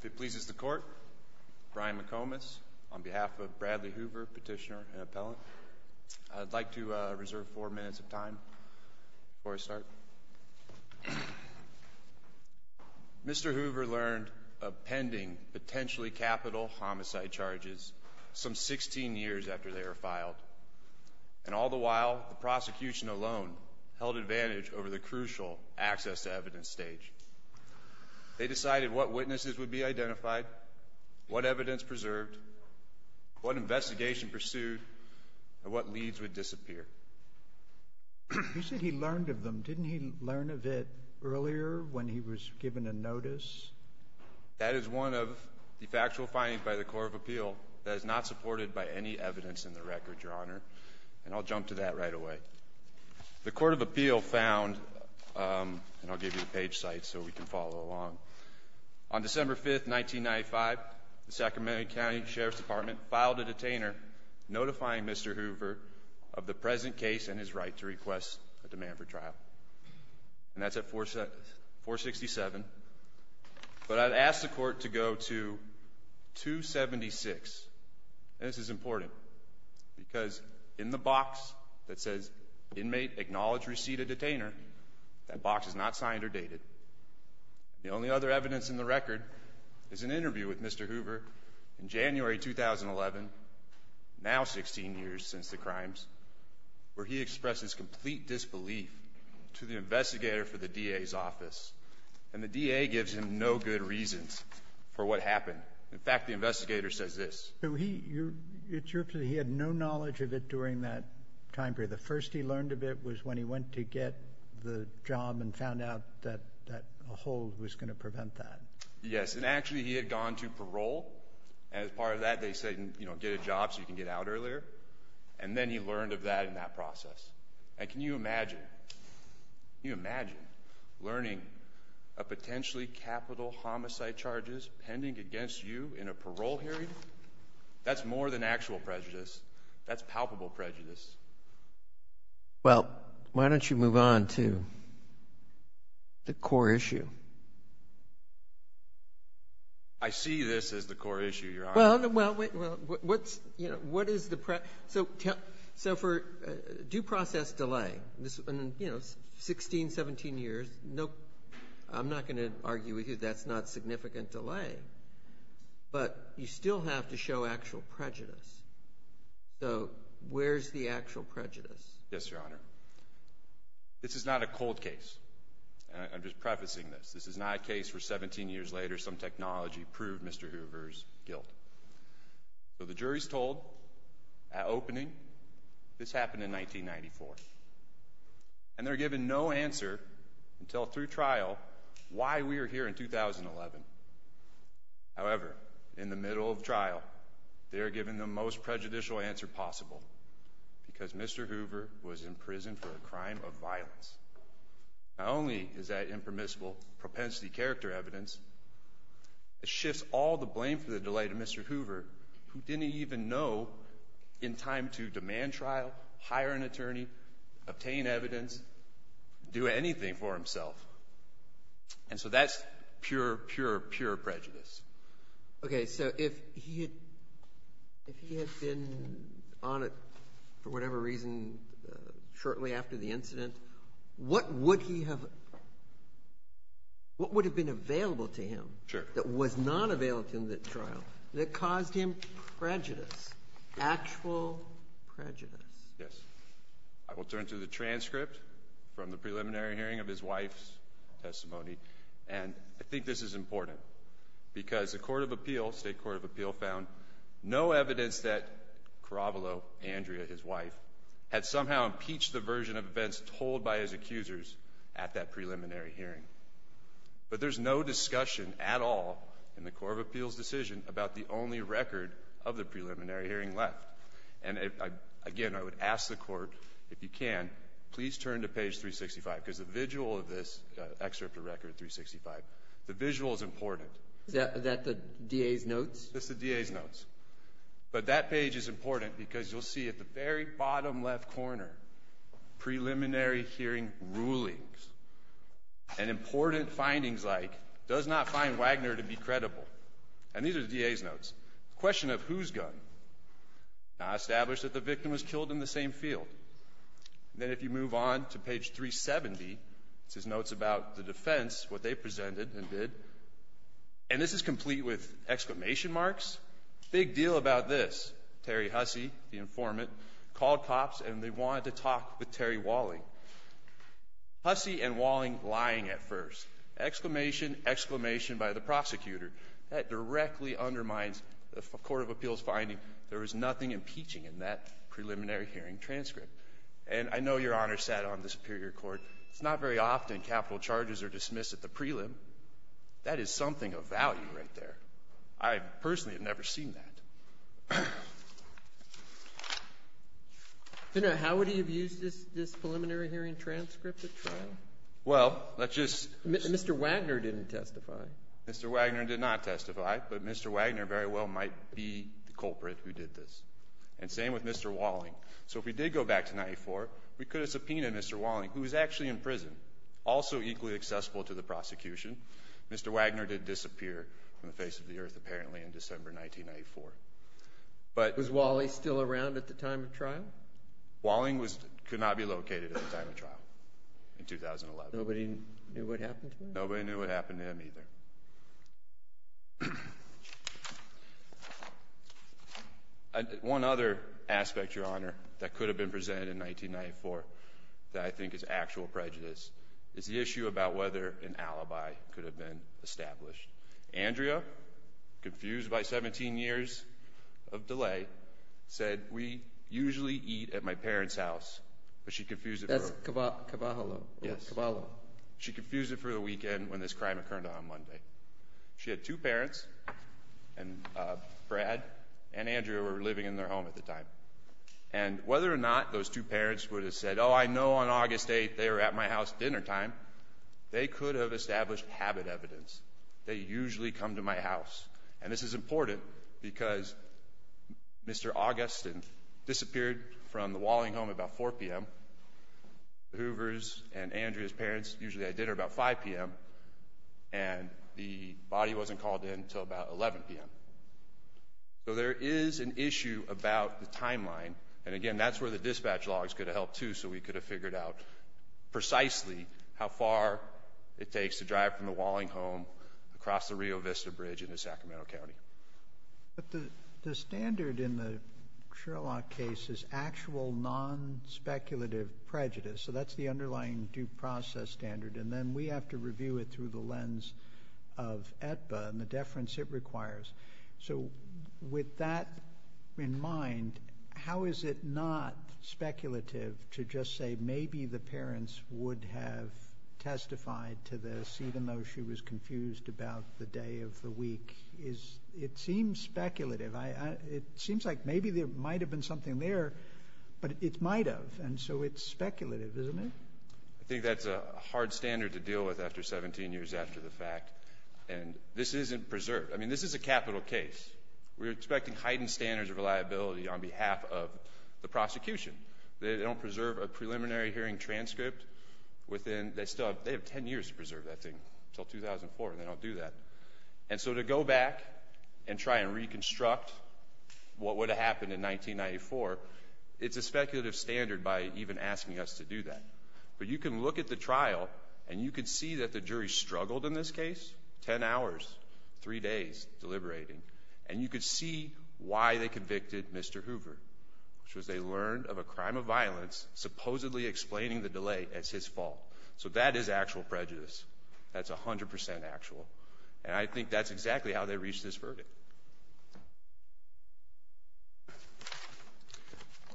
If it pleases the court, Brian McComas, on behalf of Bradley Hoover, petitioner and appellant, I'd like to reserve four minutes of time before I start. Mr. Hoover learned of pending potentially capital homicide charges some 16 years after they were filed, and all the while the prosecution alone held advantage over the crucial access to evidence stage. They decided what witnesses would be identified, what evidence preserved, what investigation pursued, and what leads would disappear. You said he learned of them. Didn't he learn of it earlier when he was given a notice? That is one of the factual findings by the Court of Appeal that is not supported by any evidence in the record, Your Honor. And I'll jump to that right away. The Court of Appeal found, and I'll give you the page site so we can follow along. On December 5, 1995, the Sacramento County Sheriff's Department filed a detainer notifying Mr. Hoover of the present case and his right to request a demand for trial. And that's at 467. But I'd ask the Court to go to 276. This is important because in the box that says, Inmate, acknowledge receipt of detainer, that box is not signed or dated. The only other evidence in the record is an interview with Mr. Hoover in January 2011, now 16 years since the crimes, where he expresses complete disbelief to the investigator for the DA's office. And the DA gives him no good reasons for what happened. In fact, the investigator says this. So he had no knowledge of it during that time period. The first he learned of it was when he went to get the job and found out that a hold was going to prevent that. Yes. And actually, he had gone to parole. And as part of that, they said, you know, get a job so you can get out earlier. And then he learned of that in that process. And can you imagine, can you imagine, learning of potentially capital homicide charges pending against you in a parole hearing? That's more than actual prejudice. That's palpable prejudice. Well, why don't you move on to the core issue? I see this as the core issue, Your Honor. Well, what's, you know, what is the, so for due process delay, you know, 16, 17 years, no, I'm not going to argue with you that's not significant delay. But you still have to show actual prejudice. So where's the actual prejudice? Yes, Your Honor. This is not a cold case. And I'm just prefacing this. This is not a case where 17 years later some technology proved Mr. Hoover's guilt. So the jury's told at opening this happened in 1994. And they're given no answer until through trial why we are here in 2011. However, in the middle of trial, they are given the most prejudicial answer possible because Mr. Hoover was in prison for a crime of violence. Not only is that impermissible propensity character evidence, it shifts all the blame for the delay to Mr. Hoover, who didn't even know in time to demand trial, hire an attorney, obtain evidence, do anything for himself. And so that's pure, pure, pure prejudice. Okay, so if he had been on it for whatever reason shortly after the incident, what would he have – what would have been available to him that was not available to him at trial that caused him prejudice, actual prejudice? Yes. I will turn to the transcript from the preliminary hearing of his wife's testimony. And I think this is important because the Court of Appeal, State Court of Appeal, found no evidence that Caravalo, Andrea, his wife, had somehow impeached the version of events told by his accusers at that preliminary hearing. But there's no discussion at all in the Court of Appeal's decision about the only record of the preliminary hearing left. And, again, I would ask the Court, if you can, please turn to page 365 because the visual of this excerpt of record 365, the visual is important. Is that the DA's notes? That's the DA's notes. But that page is important because you'll see at the very bottom left corner preliminary hearing rulings and important findings like does not find Wagner to be credible. And these are the DA's notes. The question of whose gun? Now, establish that the victim was killed in the same field. Then if you move on to page 370, this is notes about the defense, what they presented and did, and this is complete with exclamation marks. Big deal about this. Terry Hussey, the informant, called cops and they wanted to talk with Terry Walling. Hussey and Walling lying at first. Exclamation, exclamation by the prosecutor. That directly undermines the Court of Appeal's finding there was nothing impeaching in that preliminary hearing transcript. And I know Your Honor sat on the Superior Court. It's not very often capital charges are dismissed at the prelim. That is something of value right there. I personally have never seen that. How would he have used this preliminary hearing transcript at trial? Well, let's just ---- Mr. Wagner didn't testify. Mr. Wagner did not testify, but Mr. Wagner very well might be the culprit who did this and same with Mr. Walling. So if we did go back to 1994, we could have subpoenaed Mr. Walling, who was actually in prison, also equally accessible to the prosecution. Mr. Wagner did disappear from the face of the earth apparently in December 1994. Was Wally still around at the time of trial? Walling could not be located at the time of trial in 2011. Nobody knew what happened to him? Nobody knew what happened to him either. One other aspect, Your Honor, that could have been presented in 1994 that I think is actual prejudice is the issue about whether an alibi could have been established. Andrea, confused by 17 years of delay, said, We usually eat at my parents' house, but she confused it for a weekend when this crime occurred on Monday. She had two parents, Brad and Andrea, who were living in their home at the time. And whether or not those two parents would have said, Oh, I know on August 8th they were at my house at dinnertime, they could have established habit evidence. They usually come to my house. And this is important because Mr. Augustin disappeared from the Walling home about 4 p.m., Mr. Hoover's and Andrea's parents usually had dinner about 5 p.m., and the body wasn't called in until about 11 p.m. So there is an issue about the timeline, and again that's where the dispatch logs could have helped too so we could have figured out precisely how far it takes to drive from the Walling home across the Rio Vista Bridge into Sacramento County. But the standard in the Sherlock case is actual non-speculative prejudice, so that's the underlying due process standard, and then we have to review it through the lens of AEDPA and the deference it requires. So with that in mind, how is it not speculative to just say maybe the parents would have testified to this even though she was confused about the day of the week? It seems speculative. It seems like maybe there might have been something there, but it might have, and so it's speculative, isn't it? I think that's a hard standard to deal with after 17 years after the fact, and this isn't preserved. I mean, this is a capital case. We're expecting heightened standards of reliability on behalf of the prosecution. They don't preserve a preliminary hearing transcript within They still have 10 years to preserve that thing until 2004, and they don't do that. And so to go back and try and reconstruct what would have happened in 1994, it's a speculative standard by even asking us to do that. But you can look at the trial, and you can see that the jury struggled in this case, 10 hours, 3 days deliberating, and you can see why they convicted Mr. Hoover, which was they learned of a crime of violence supposedly explaining the delay as his fault. So that is actual prejudice. That's 100 percent actual. And I think that's exactly how they reached this verdict.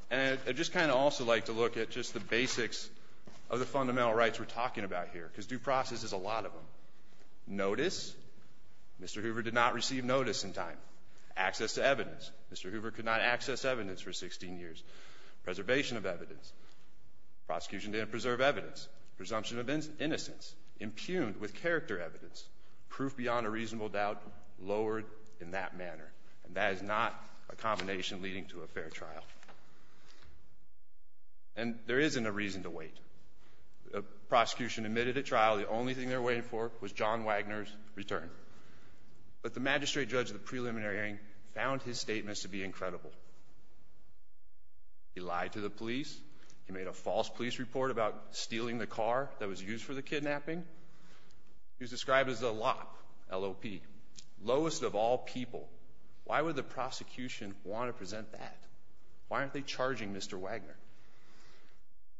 And I'd just kind of also like to look at just the basics of the fundamental rights we're talking about here because due process is a lot of them. Notice, Mr. Hoover did not receive notice in time. Access to evidence. Mr. Hoover could not access evidence for 16 years. Preservation of evidence. Prosecution didn't preserve evidence. Presumption of innocence. Impugned with character evidence. Proof beyond a reasonable doubt lowered in that manner. And that is not a combination leading to a fair trial. And there isn't a reason to wait. The prosecution admitted at trial the only thing they were waiting for was John Wagner's return. But the magistrate judge of the preliminary hearing found his statements to be incredible. He lied to the police. He made a false police report about stealing the car that was used for the kidnapping. He was described as a lop, L-O-P, lowest of all people. Why would the prosecution want to present that? Why aren't they charging Mr. Wagner?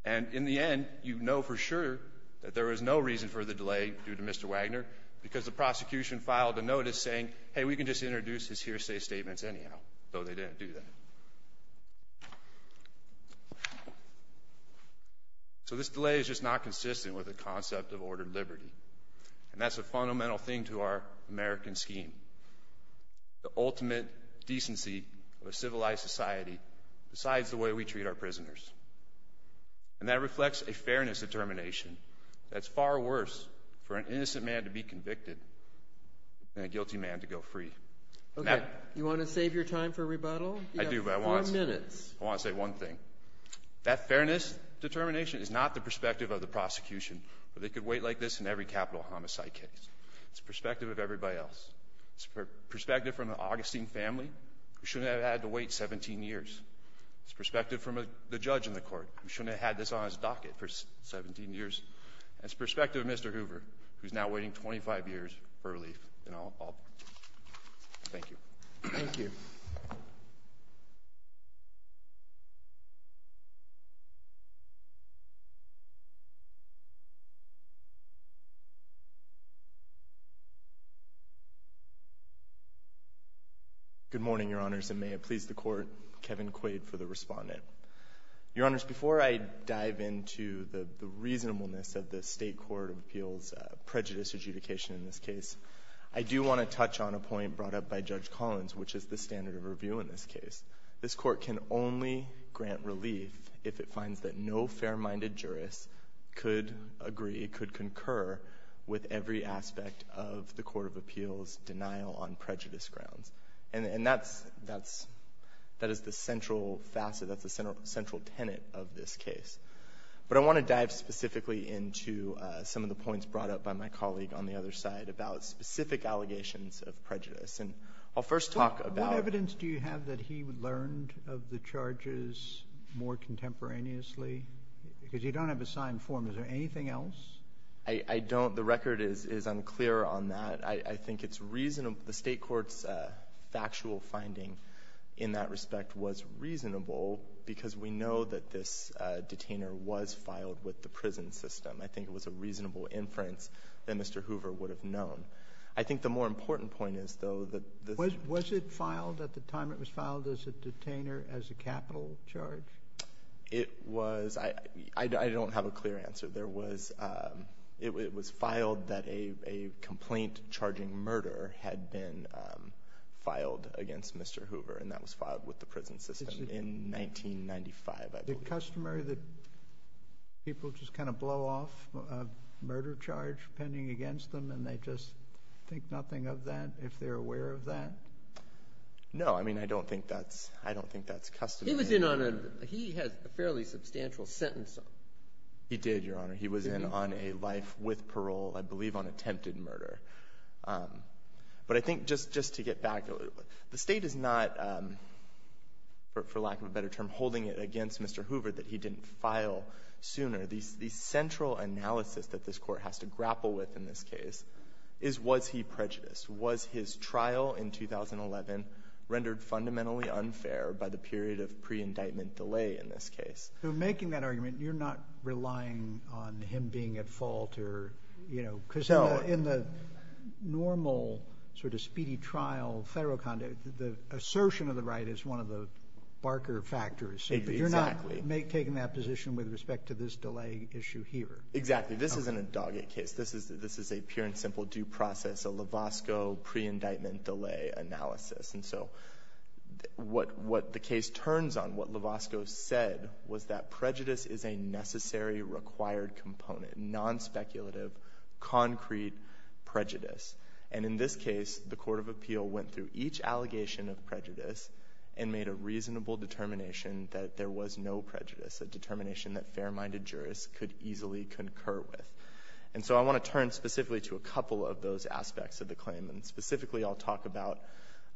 And in the end, you know for sure that there is no reason for the delay due to Mr. Wagner because the prosecution filed a notice saying, hey, we can just introduce his hearsay statements anyhow, though they didn't do that. So this delay is just not consistent with the concept of ordered liberty. And that's a fundamental thing to our American scheme. The ultimate decency of a civilized society decides the way we treat our prisoners. And that reflects a fairness determination. That's far worse for an innocent man to be convicted than a guilty man to go free. Okay. You want to save your time for rebuttal? I do, but I want to say one thing. That fairness determination is not the perspective of the prosecution. They could wait like this in every capital homicide case. It's the perspective of everybody else. It's the perspective from the Augustine family, who shouldn't have had to wait 17 years. It's the perspective from the judge in the court, who shouldn't have had this on his docket for 17 years. It's the perspective of Mr. Hoover, who's now waiting 25 years for relief in all. Thank you. Thank you. Good morning, Your Honors, and may it please the Court, Kevin Quaid for the respondent. Your Honors, before I dive into the reasonableness of the State Court of Appeals' prejudice adjudication in this case, I do want to touch on a point brought up by Judge Collins, which is the standard of review in this case. This Court can only grant relief if it finds that no fair-minded jurist could agree, could concur with every aspect of the Court of Appeals' denial on prejudice grounds. And that's the central facet, that's the central tenet of this case. But I want to dive specifically into some of the points brought up by my colleague on the other side about specific allegations of prejudice. And I'll first talk about ---- What evidence do you have that he learned of the charges more contemporaneously? Because you don't have a signed form. Is there anything else? I don't. The record is unclear on that. I think it's reasonable. The State Court's factual finding in that respect was reasonable because we know that this detainer was filed with the prison system. I think it was a reasonable inference that Mr. Hoover would have known. I think the more important point is, though, that the ---- Was it filed at the time it was filed as a detainer as a capital charge? It was. I don't have a clear answer. There was ---- It was filed that a complaint charging murder had been filed against Mr. Hoover, and that was filed with the prison system in 1995, I believe. Is it customary that people just kind of blow off a murder charge pending against them and they just think nothing of that if they're aware of that? No. I mean, I don't think that's customary. He was in on a ---- He had a fairly substantial sentence. He did, Your Honor. He was in on a life with parole, I believe, on attempted murder. But I think just to get back, the State is not, for lack of a better term, holding it against Mr. Hoover that he didn't file sooner. The central analysis that this Court has to grapple with in this case is was he prejudiced? Was his trial in 2011 rendered fundamentally unfair by the period of pre-indictment delay in this case? So making that argument, you're not relying on him being at fault or, you know, because in the normal sort of speedy trial of federal conduct, the assertion of the right is one of the barker factors. Exactly. So you're not taking that position with respect to this delay issue here. Exactly. This isn't a dogged case. This is a pure and simple due process, a Lavosko pre-indictment delay analysis. And so what the case turns on, what Lavosko said was that prejudice is a necessary required component, non-speculative, concrete prejudice. And in this case, the Court of Appeal went through each allegation of prejudice and made a reasonable determination that there was no prejudice, a determination that fair-minded jurists could easily concur with. And so I want to turn specifically to a couple of those aspects of the claim. And specifically, I'll talk about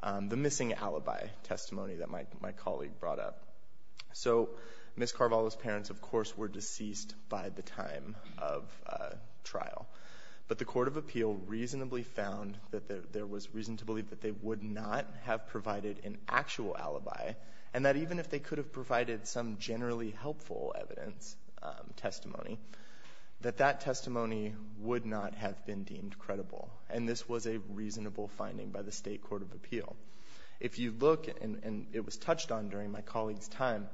the missing alibi testimony that my colleague brought up. So Ms. Carvalho's parents, of course, were deceased by the time of trial. But the Court of Appeal reasonably found that there was reason to believe that they would not have provided an actual alibi and that even if they could have provided some generally helpful evidence, testimony, that that testimony would not have been deemed credible. And this was a reasonable finding by the State Court of Appeal. If you look, and it was touched on during my colleague's time,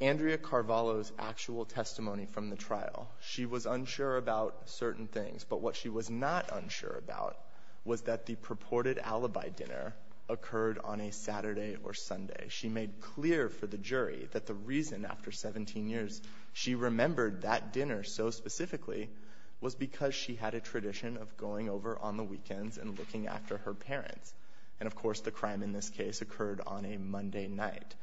Andrea Carvalho's actual testimony from the trial, she was unsure about certain things. But what she was not unsure about was that the purported alibi dinner occurred on a Saturday or Sunday. She made clear for the jury that the reason after 17 years she remembered that dinner so specifically was because she had a tradition of going over on the weekends and looking after her parents. And, of course, the crime in this case occurred on a Monday night.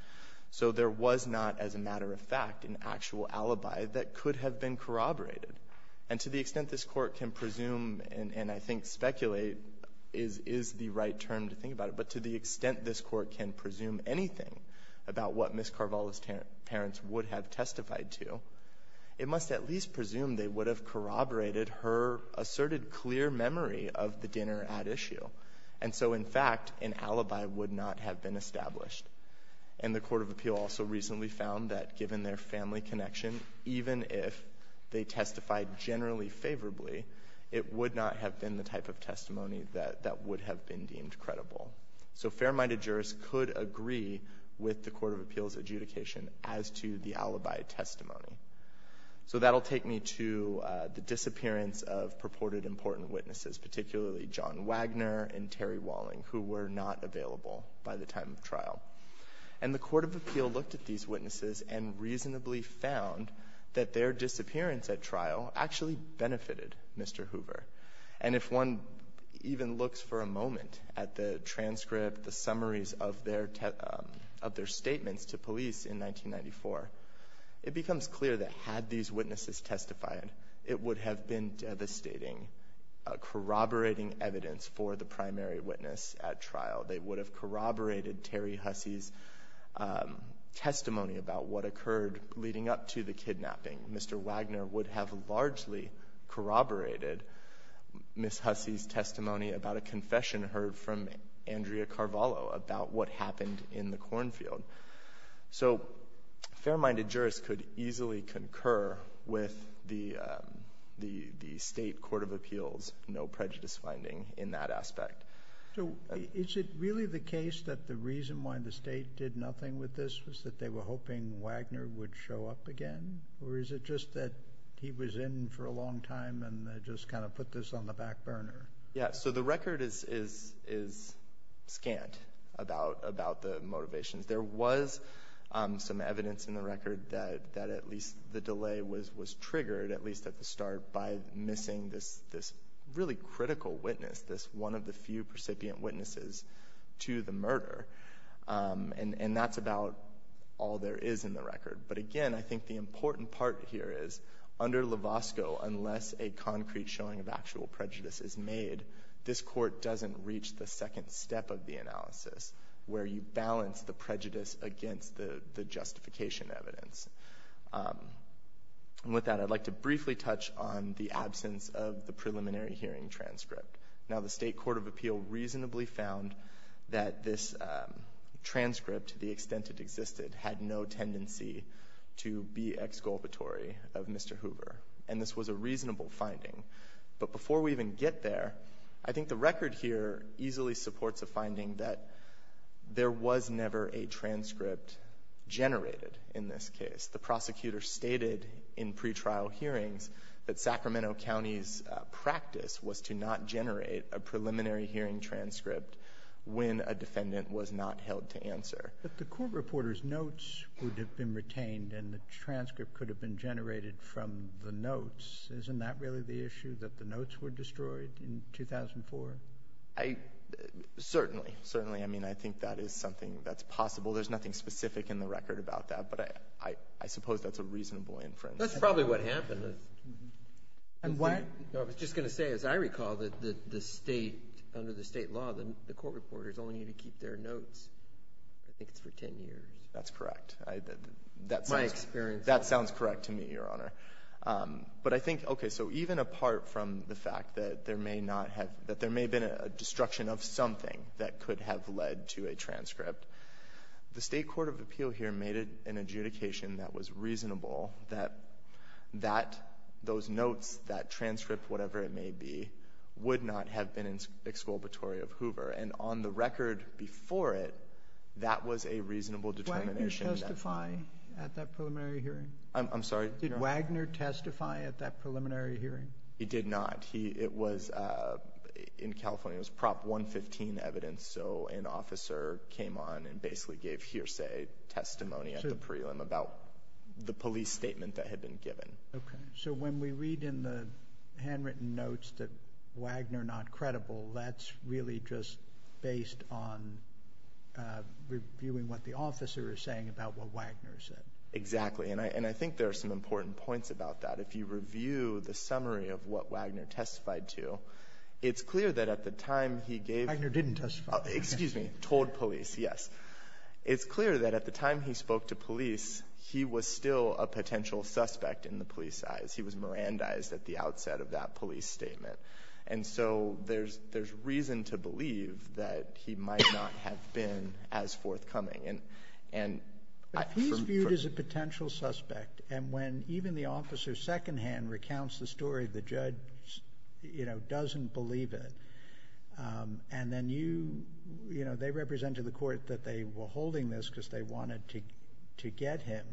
So there was not, as a matter of fact, an actual alibi that could have been corroborated. And to the extent this Court can presume and I think speculate is the right term to think about it, but to the extent this Court can presume anything about what Ms. Carvalho's parents would have testified to, it must at least presume they would have corroborated her asserted clear memory of the dinner at issue. And so, in fact, an alibi would not have been established. And the Court of Appeal also recently found that, given their family connection, even if they testified generally favorably, it would not have been the type of testimony that that would have been deemed credible. So fair-minded jurors could agree with the Court of Appeal's adjudication as to the alibi testimony. So that will take me to the disappearance of purported important witnesses, particularly John Wagner and Terry Walling, who were not available by the time of trial. And the Court of Appeal looked at these witnesses and reasonably found that their disappearance at trial actually benefited Mr. Hoover. And if one even looks for a moment at the transcript, the summaries of their statements to police in 1994, it becomes clear that had these witnesses testified, it would have been devastating, corroborating evidence for the primary witness at trial. They would have corroborated Terry Hussey's testimony about what occurred leading up to the kidnapping. Mr. Wagner would have largely corroborated Ms. Hussey's testimony about a confession heard from Andrea Carvalho about what happened in the cornfield. So fair-minded jurors could easily concur with the State Court of Appeal's no prejudice finding in that aspect. So is it really the case that the reason why the State did nothing with this was that they were hoping Wagner would show up again? Or is it just that he was in for a long time and they just kind of put this on the back burner? Yeah, so the record is scant about the motivations. There was some evidence in the record that at least the delay was triggered, at least at the start, by missing this really critical witness, this one of the few all there is in the record. But again, I think the important part here is, under Lovasco, unless a concrete showing of actual prejudice is made, this Court doesn't reach the second step of the analysis, where you balance the prejudice against the justification evidence. And with that, I'd like to briefly touch on the absence of the preliminary hearing transcript. Now, the State Court of Appeal reasonably found that this transcript, to the extent it existed, had no tendency to be exculpatory of Mr. Hoover. And this was a reasonable finding. But before we even get there, I think the record here easily supports a finding that there was never a transcript generated in this case. The prosecutor stated in pretrial hearings that Sacramento County's practice was to not generate a preliminary hearing transcript when a defendant was not held to answer. But the court reporter's notes would have been retained and the transcript could have been generated from the notes. Isn't that really the issue, that the notes were destroyed in 2004? Certainly. Certainly. I mean, I think that is something that's possible. There's nothing specific in the record about that, but I suppose that's a reasonable inference. That's probably what happened. I was just going to say, as I recall, that the State, under the State law, the court reporters only need to keep their notes. I think it's for 10 years. That's correct. That sounds correct to me, Your Honor. But I think, okay, so even apart from the fact that there may not have been a destruction of something that could have led to a transcript, the State court of appeal here made an adjudication that was reasonable, that those notes, that transcript, whatever it may be, would not have been exculpatory of Hoover. And on the record before it, that was a reasonable determination. Did Wagner testify at that preliminary hearing? I'm sorry? Did Wagner testify at that preliminary hearing? He did not. It was in California. It was Prop 115 evidence. So an officer came on and basically gave hearsay testimony at the prelim about the police statement that had been given. Okay. So when we read in the handwritten notes that Wagner not credible, that's really just based on reviewing what the officer is saying about what Wagner said. Exactly. And I think there are some important points about that. If you review the summary of what Wagner testified to, it's clear that at the time he gave the testimony. Wagner didn't testify. Excuse me. Told police, yes. It's clear that at the time he spoke to police, he was still a potential suspect in the police's eyes. He was Mirandized at the outset of that police statement. And so there's reason to believe that he might not have been as forthcoming. But he's viewed as a potential suspect. And when even the officer secondhand recounts the story, the judge, you know, doesn't believe it, and then you, you know, they represent to the court that they were holding this because they wanted to get him.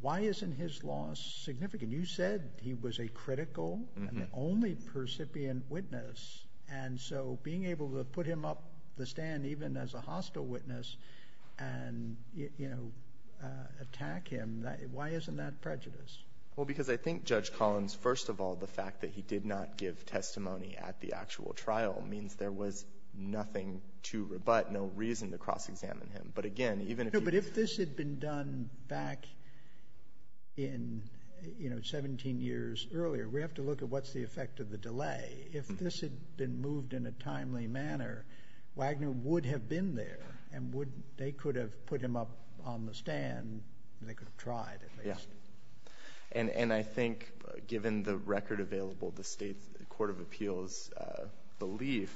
Why isn't his loss significant? You said he was a critical and the only percipient witness. And so being able to put him up the stand even as a hostile witness and, you know, attack him, why isn't that prejudice? Well, because I think, Judge Collins, first of all, the fact that he did not give testimony at the actual trial means there was nothing to rebut, no reason to cross-examine him. But again, even if you – No, but if this had been done back in, you know, 17 years earlier, we have to look at what's the effect of the delay. If this had been moved in a timely manner, Wagner would have been there and they could have put him up on the stand and they could have tried at least. Yeah. And I think given the record available, the State's Court of Appeals belief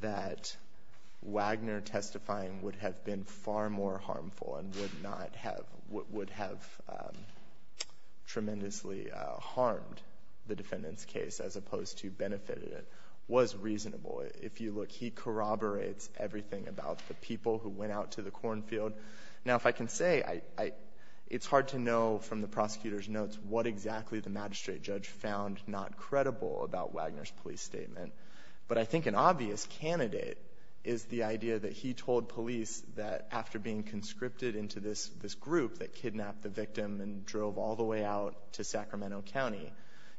that Wagner testifying would have been far more harmful and would not have – would have tremendously harmed the defendant's case as opposed to benefited it was reasonable. If you look, he corroborates everything about the people who went out to the cornfield. Now, if I can say, I – it's hard to know from the prosecutor's notes what exactly the magistrate judge found not credible about Wagner's police statement. But I think an obvious candidate is the idea that he told police that after being conscripted into this group that kidnapped the victim and drove all the way out to Sacramento County,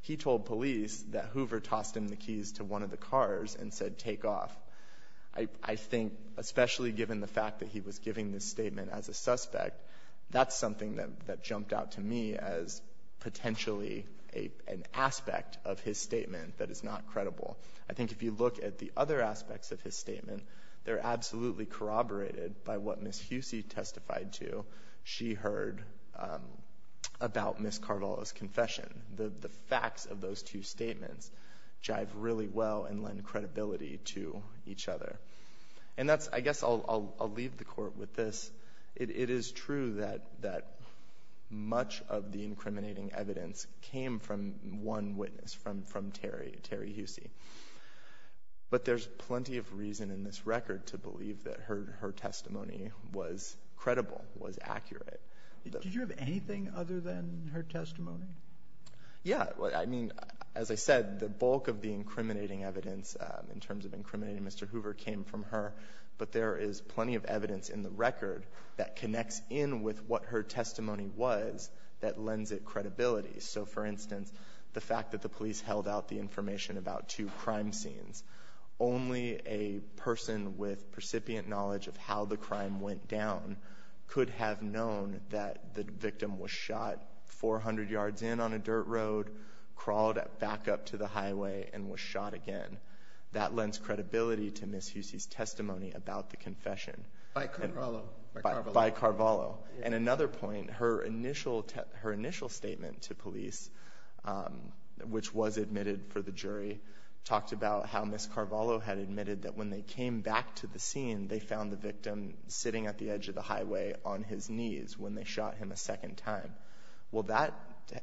he told police that Hoover tossed him the keys to one of the cars and said, take off. I think, especially given the fact that he was giving this statement as a suspect, that's something that jumped out to me as potentially an aspect of his statement that is not credible. I think if you look at the other aspects of his statement, they're absolutely corroborated by what Ms. Husey testified to, she heard about Ms. Carvalho's confession. The facts of those two statements jive really well and lend credibility to each other. And that's – I guess I'll leave the Court with this. It is true that much of the incriminating evidence came from one witness, from Terry Husey, but there's plenty of reason in this record to believe that her testimony was credible, was accurate. Did you have anything other than her testimony? Yeah. I mean, as I said, the bulk of the incriminating evidence in terms of incriminating Mr. Hoover came from her, but there is plenty of evidence in the record that connects in with what her testimony was that lends it credibility. So, for instance, the fact that the police held out the information about two crime scenes, only a person with precipient knowledge of how the crime went down could have known that the victim was shot 400 yards in on a dirt road, crawled back up to the highway, and was shot again. That lends credibility to Ms. Husey's testimony about the confession. By Carvalho. By Carvalho. And another point, her initial statement to police, which was admitted for the jury, talked about how Ms. Carvalho had admitted that when they came back to the scene, they found the victim sitting at the edge of the highway on his knees when they shot him a second time. Well, that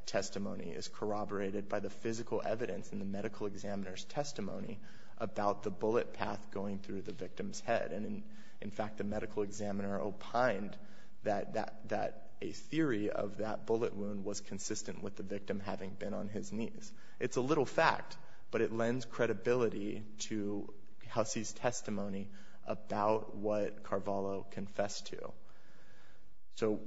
testimony is corroborated by the physical evidence in the medical examiner's testimony about the bullet path going through the victim's head. And in fact, the medical examiner opined that a theory of that bullet wound was consistent with the victim having been on his knees. It's a little fact, but it lends credibility to Husey's testimony about what Carvalho confessed to. So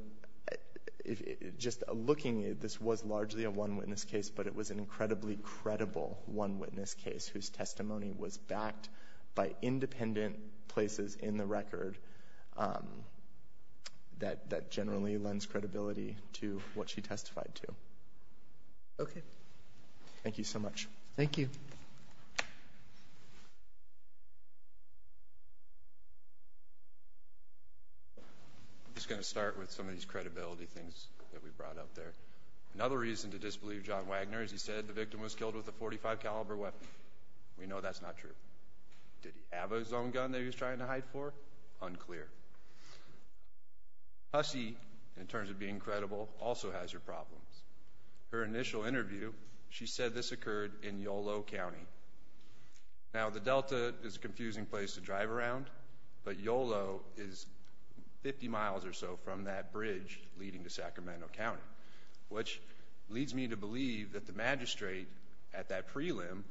just looking at it, this was largely a one-witness case, but it was an incredibly credible one-witness case whose testimony was backed by independent places in the record that generally lends credibility to what she testified to. Okay. Thank you so much. Thank you. I'm just going to start with some of these credibility things that we brought up there. Another reason to disbelieve John Wagner is he said the victim was killed with a .45-caliber weapon. We know that's not true. Did he have his own gun that he was trying to hide for? Unclear. Husey, in terms of being credible, also has her problems. Her initial interview, she said this occurred in Yolo County. Now, the Delta is a confusing place to drive around, but Yolo is 50 miles or so from that leads me to believe that the magistrate at that prelim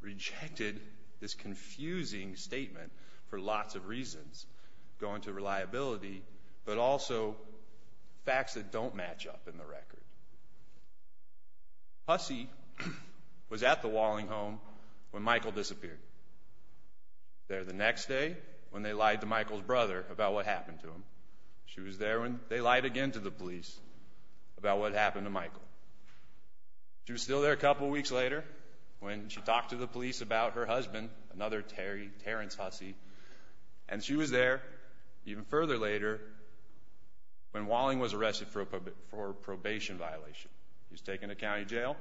rejected this confusing statement for lots of reasons going to reliability, but also facts that don't match up in the record. Husey was at the Walling Home when Michael disappeared. There the next day when they lied to Michael's brother about what happened to him. She was there when they lied again to the police about what happened to Michael. She was still there a couple weeks later when she talked to the police about her husband, another Terrence Husey, and she was there even further later when Walling was arrested for probation violation. He was taken to county jail,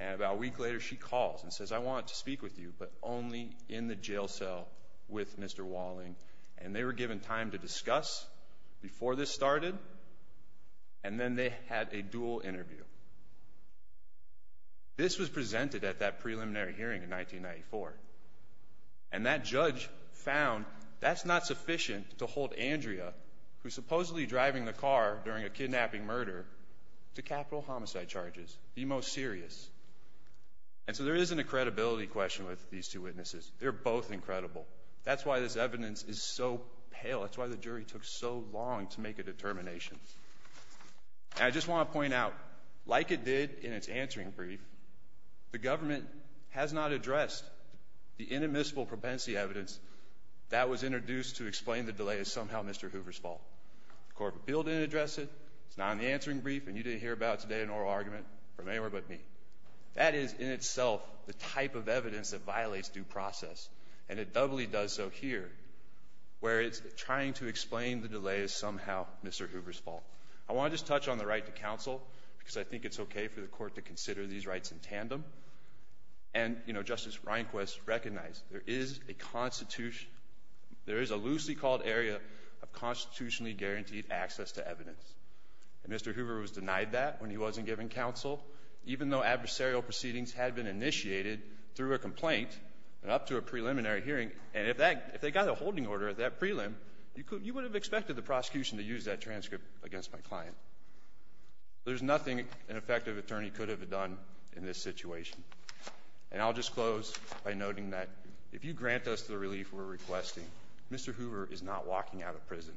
and about a week later she calls and says, I want to speak with you, but only in the jail cell with Mr. Walling. And they were given time to discuss before this started, and then they had a dual interview. This was presented at that preliminary hearing in 1994, and that judge found that's not sufficient to hold Andrea, who's supposedly driving the car during a kidnapping murder, to capital homicide charges, the most serious. And so there is an incredibility question with these two witnesses. They're both incredible. That's why this evidence is so pale. That's why the jury took so long to make a determination. And I just want to point out, like it did in its answering brief, the government has not addressed the inadmissible propensity evidence that was introduced to explain the delay is somehow Mr. Hoover's fault. The court of appeal didn't address it. It's not in the answering brief, and you didn't hear about it today in an oral argument from anywhere but me. That is in itself the type of evidence that violates due process, and it doubly does so here, where it's trying to explain the delay is somehow Mr. Hoover's fault. I want to just touch on the right to counsel because I think it's okay for the court to consider these rights in tandem. And, you know, Justice Rehnquist recognized there is a loosely called area of constitutionally guaranteed access to evidence. And Mr. Hoover was denied that when he wasn't given counsel, even though adversarial proceedings had been initiated through a complaint and up to a preliminary hearing. And if they got a holding order at that prelim, you would have expected the prosecution to use that transcript against my client. There's nothing an effective attorney could have done in this situation. And I'll just close by noting that if you grant us the relief we're requesting, Mr. Hoover is not walking out of prison.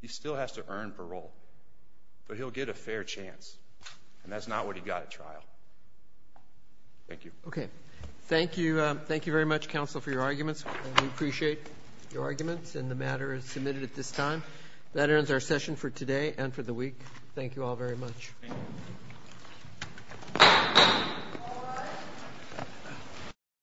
He still has to earn parole, but he'll get a fair chance. And that's not what he got at trial. Thank you. Okay. Thank you very much, counsel, for your arguments. We appreciate your arguments, and the matter is submitted at this time. That ends our session for today and for the week. Thank you all very much. Thank you.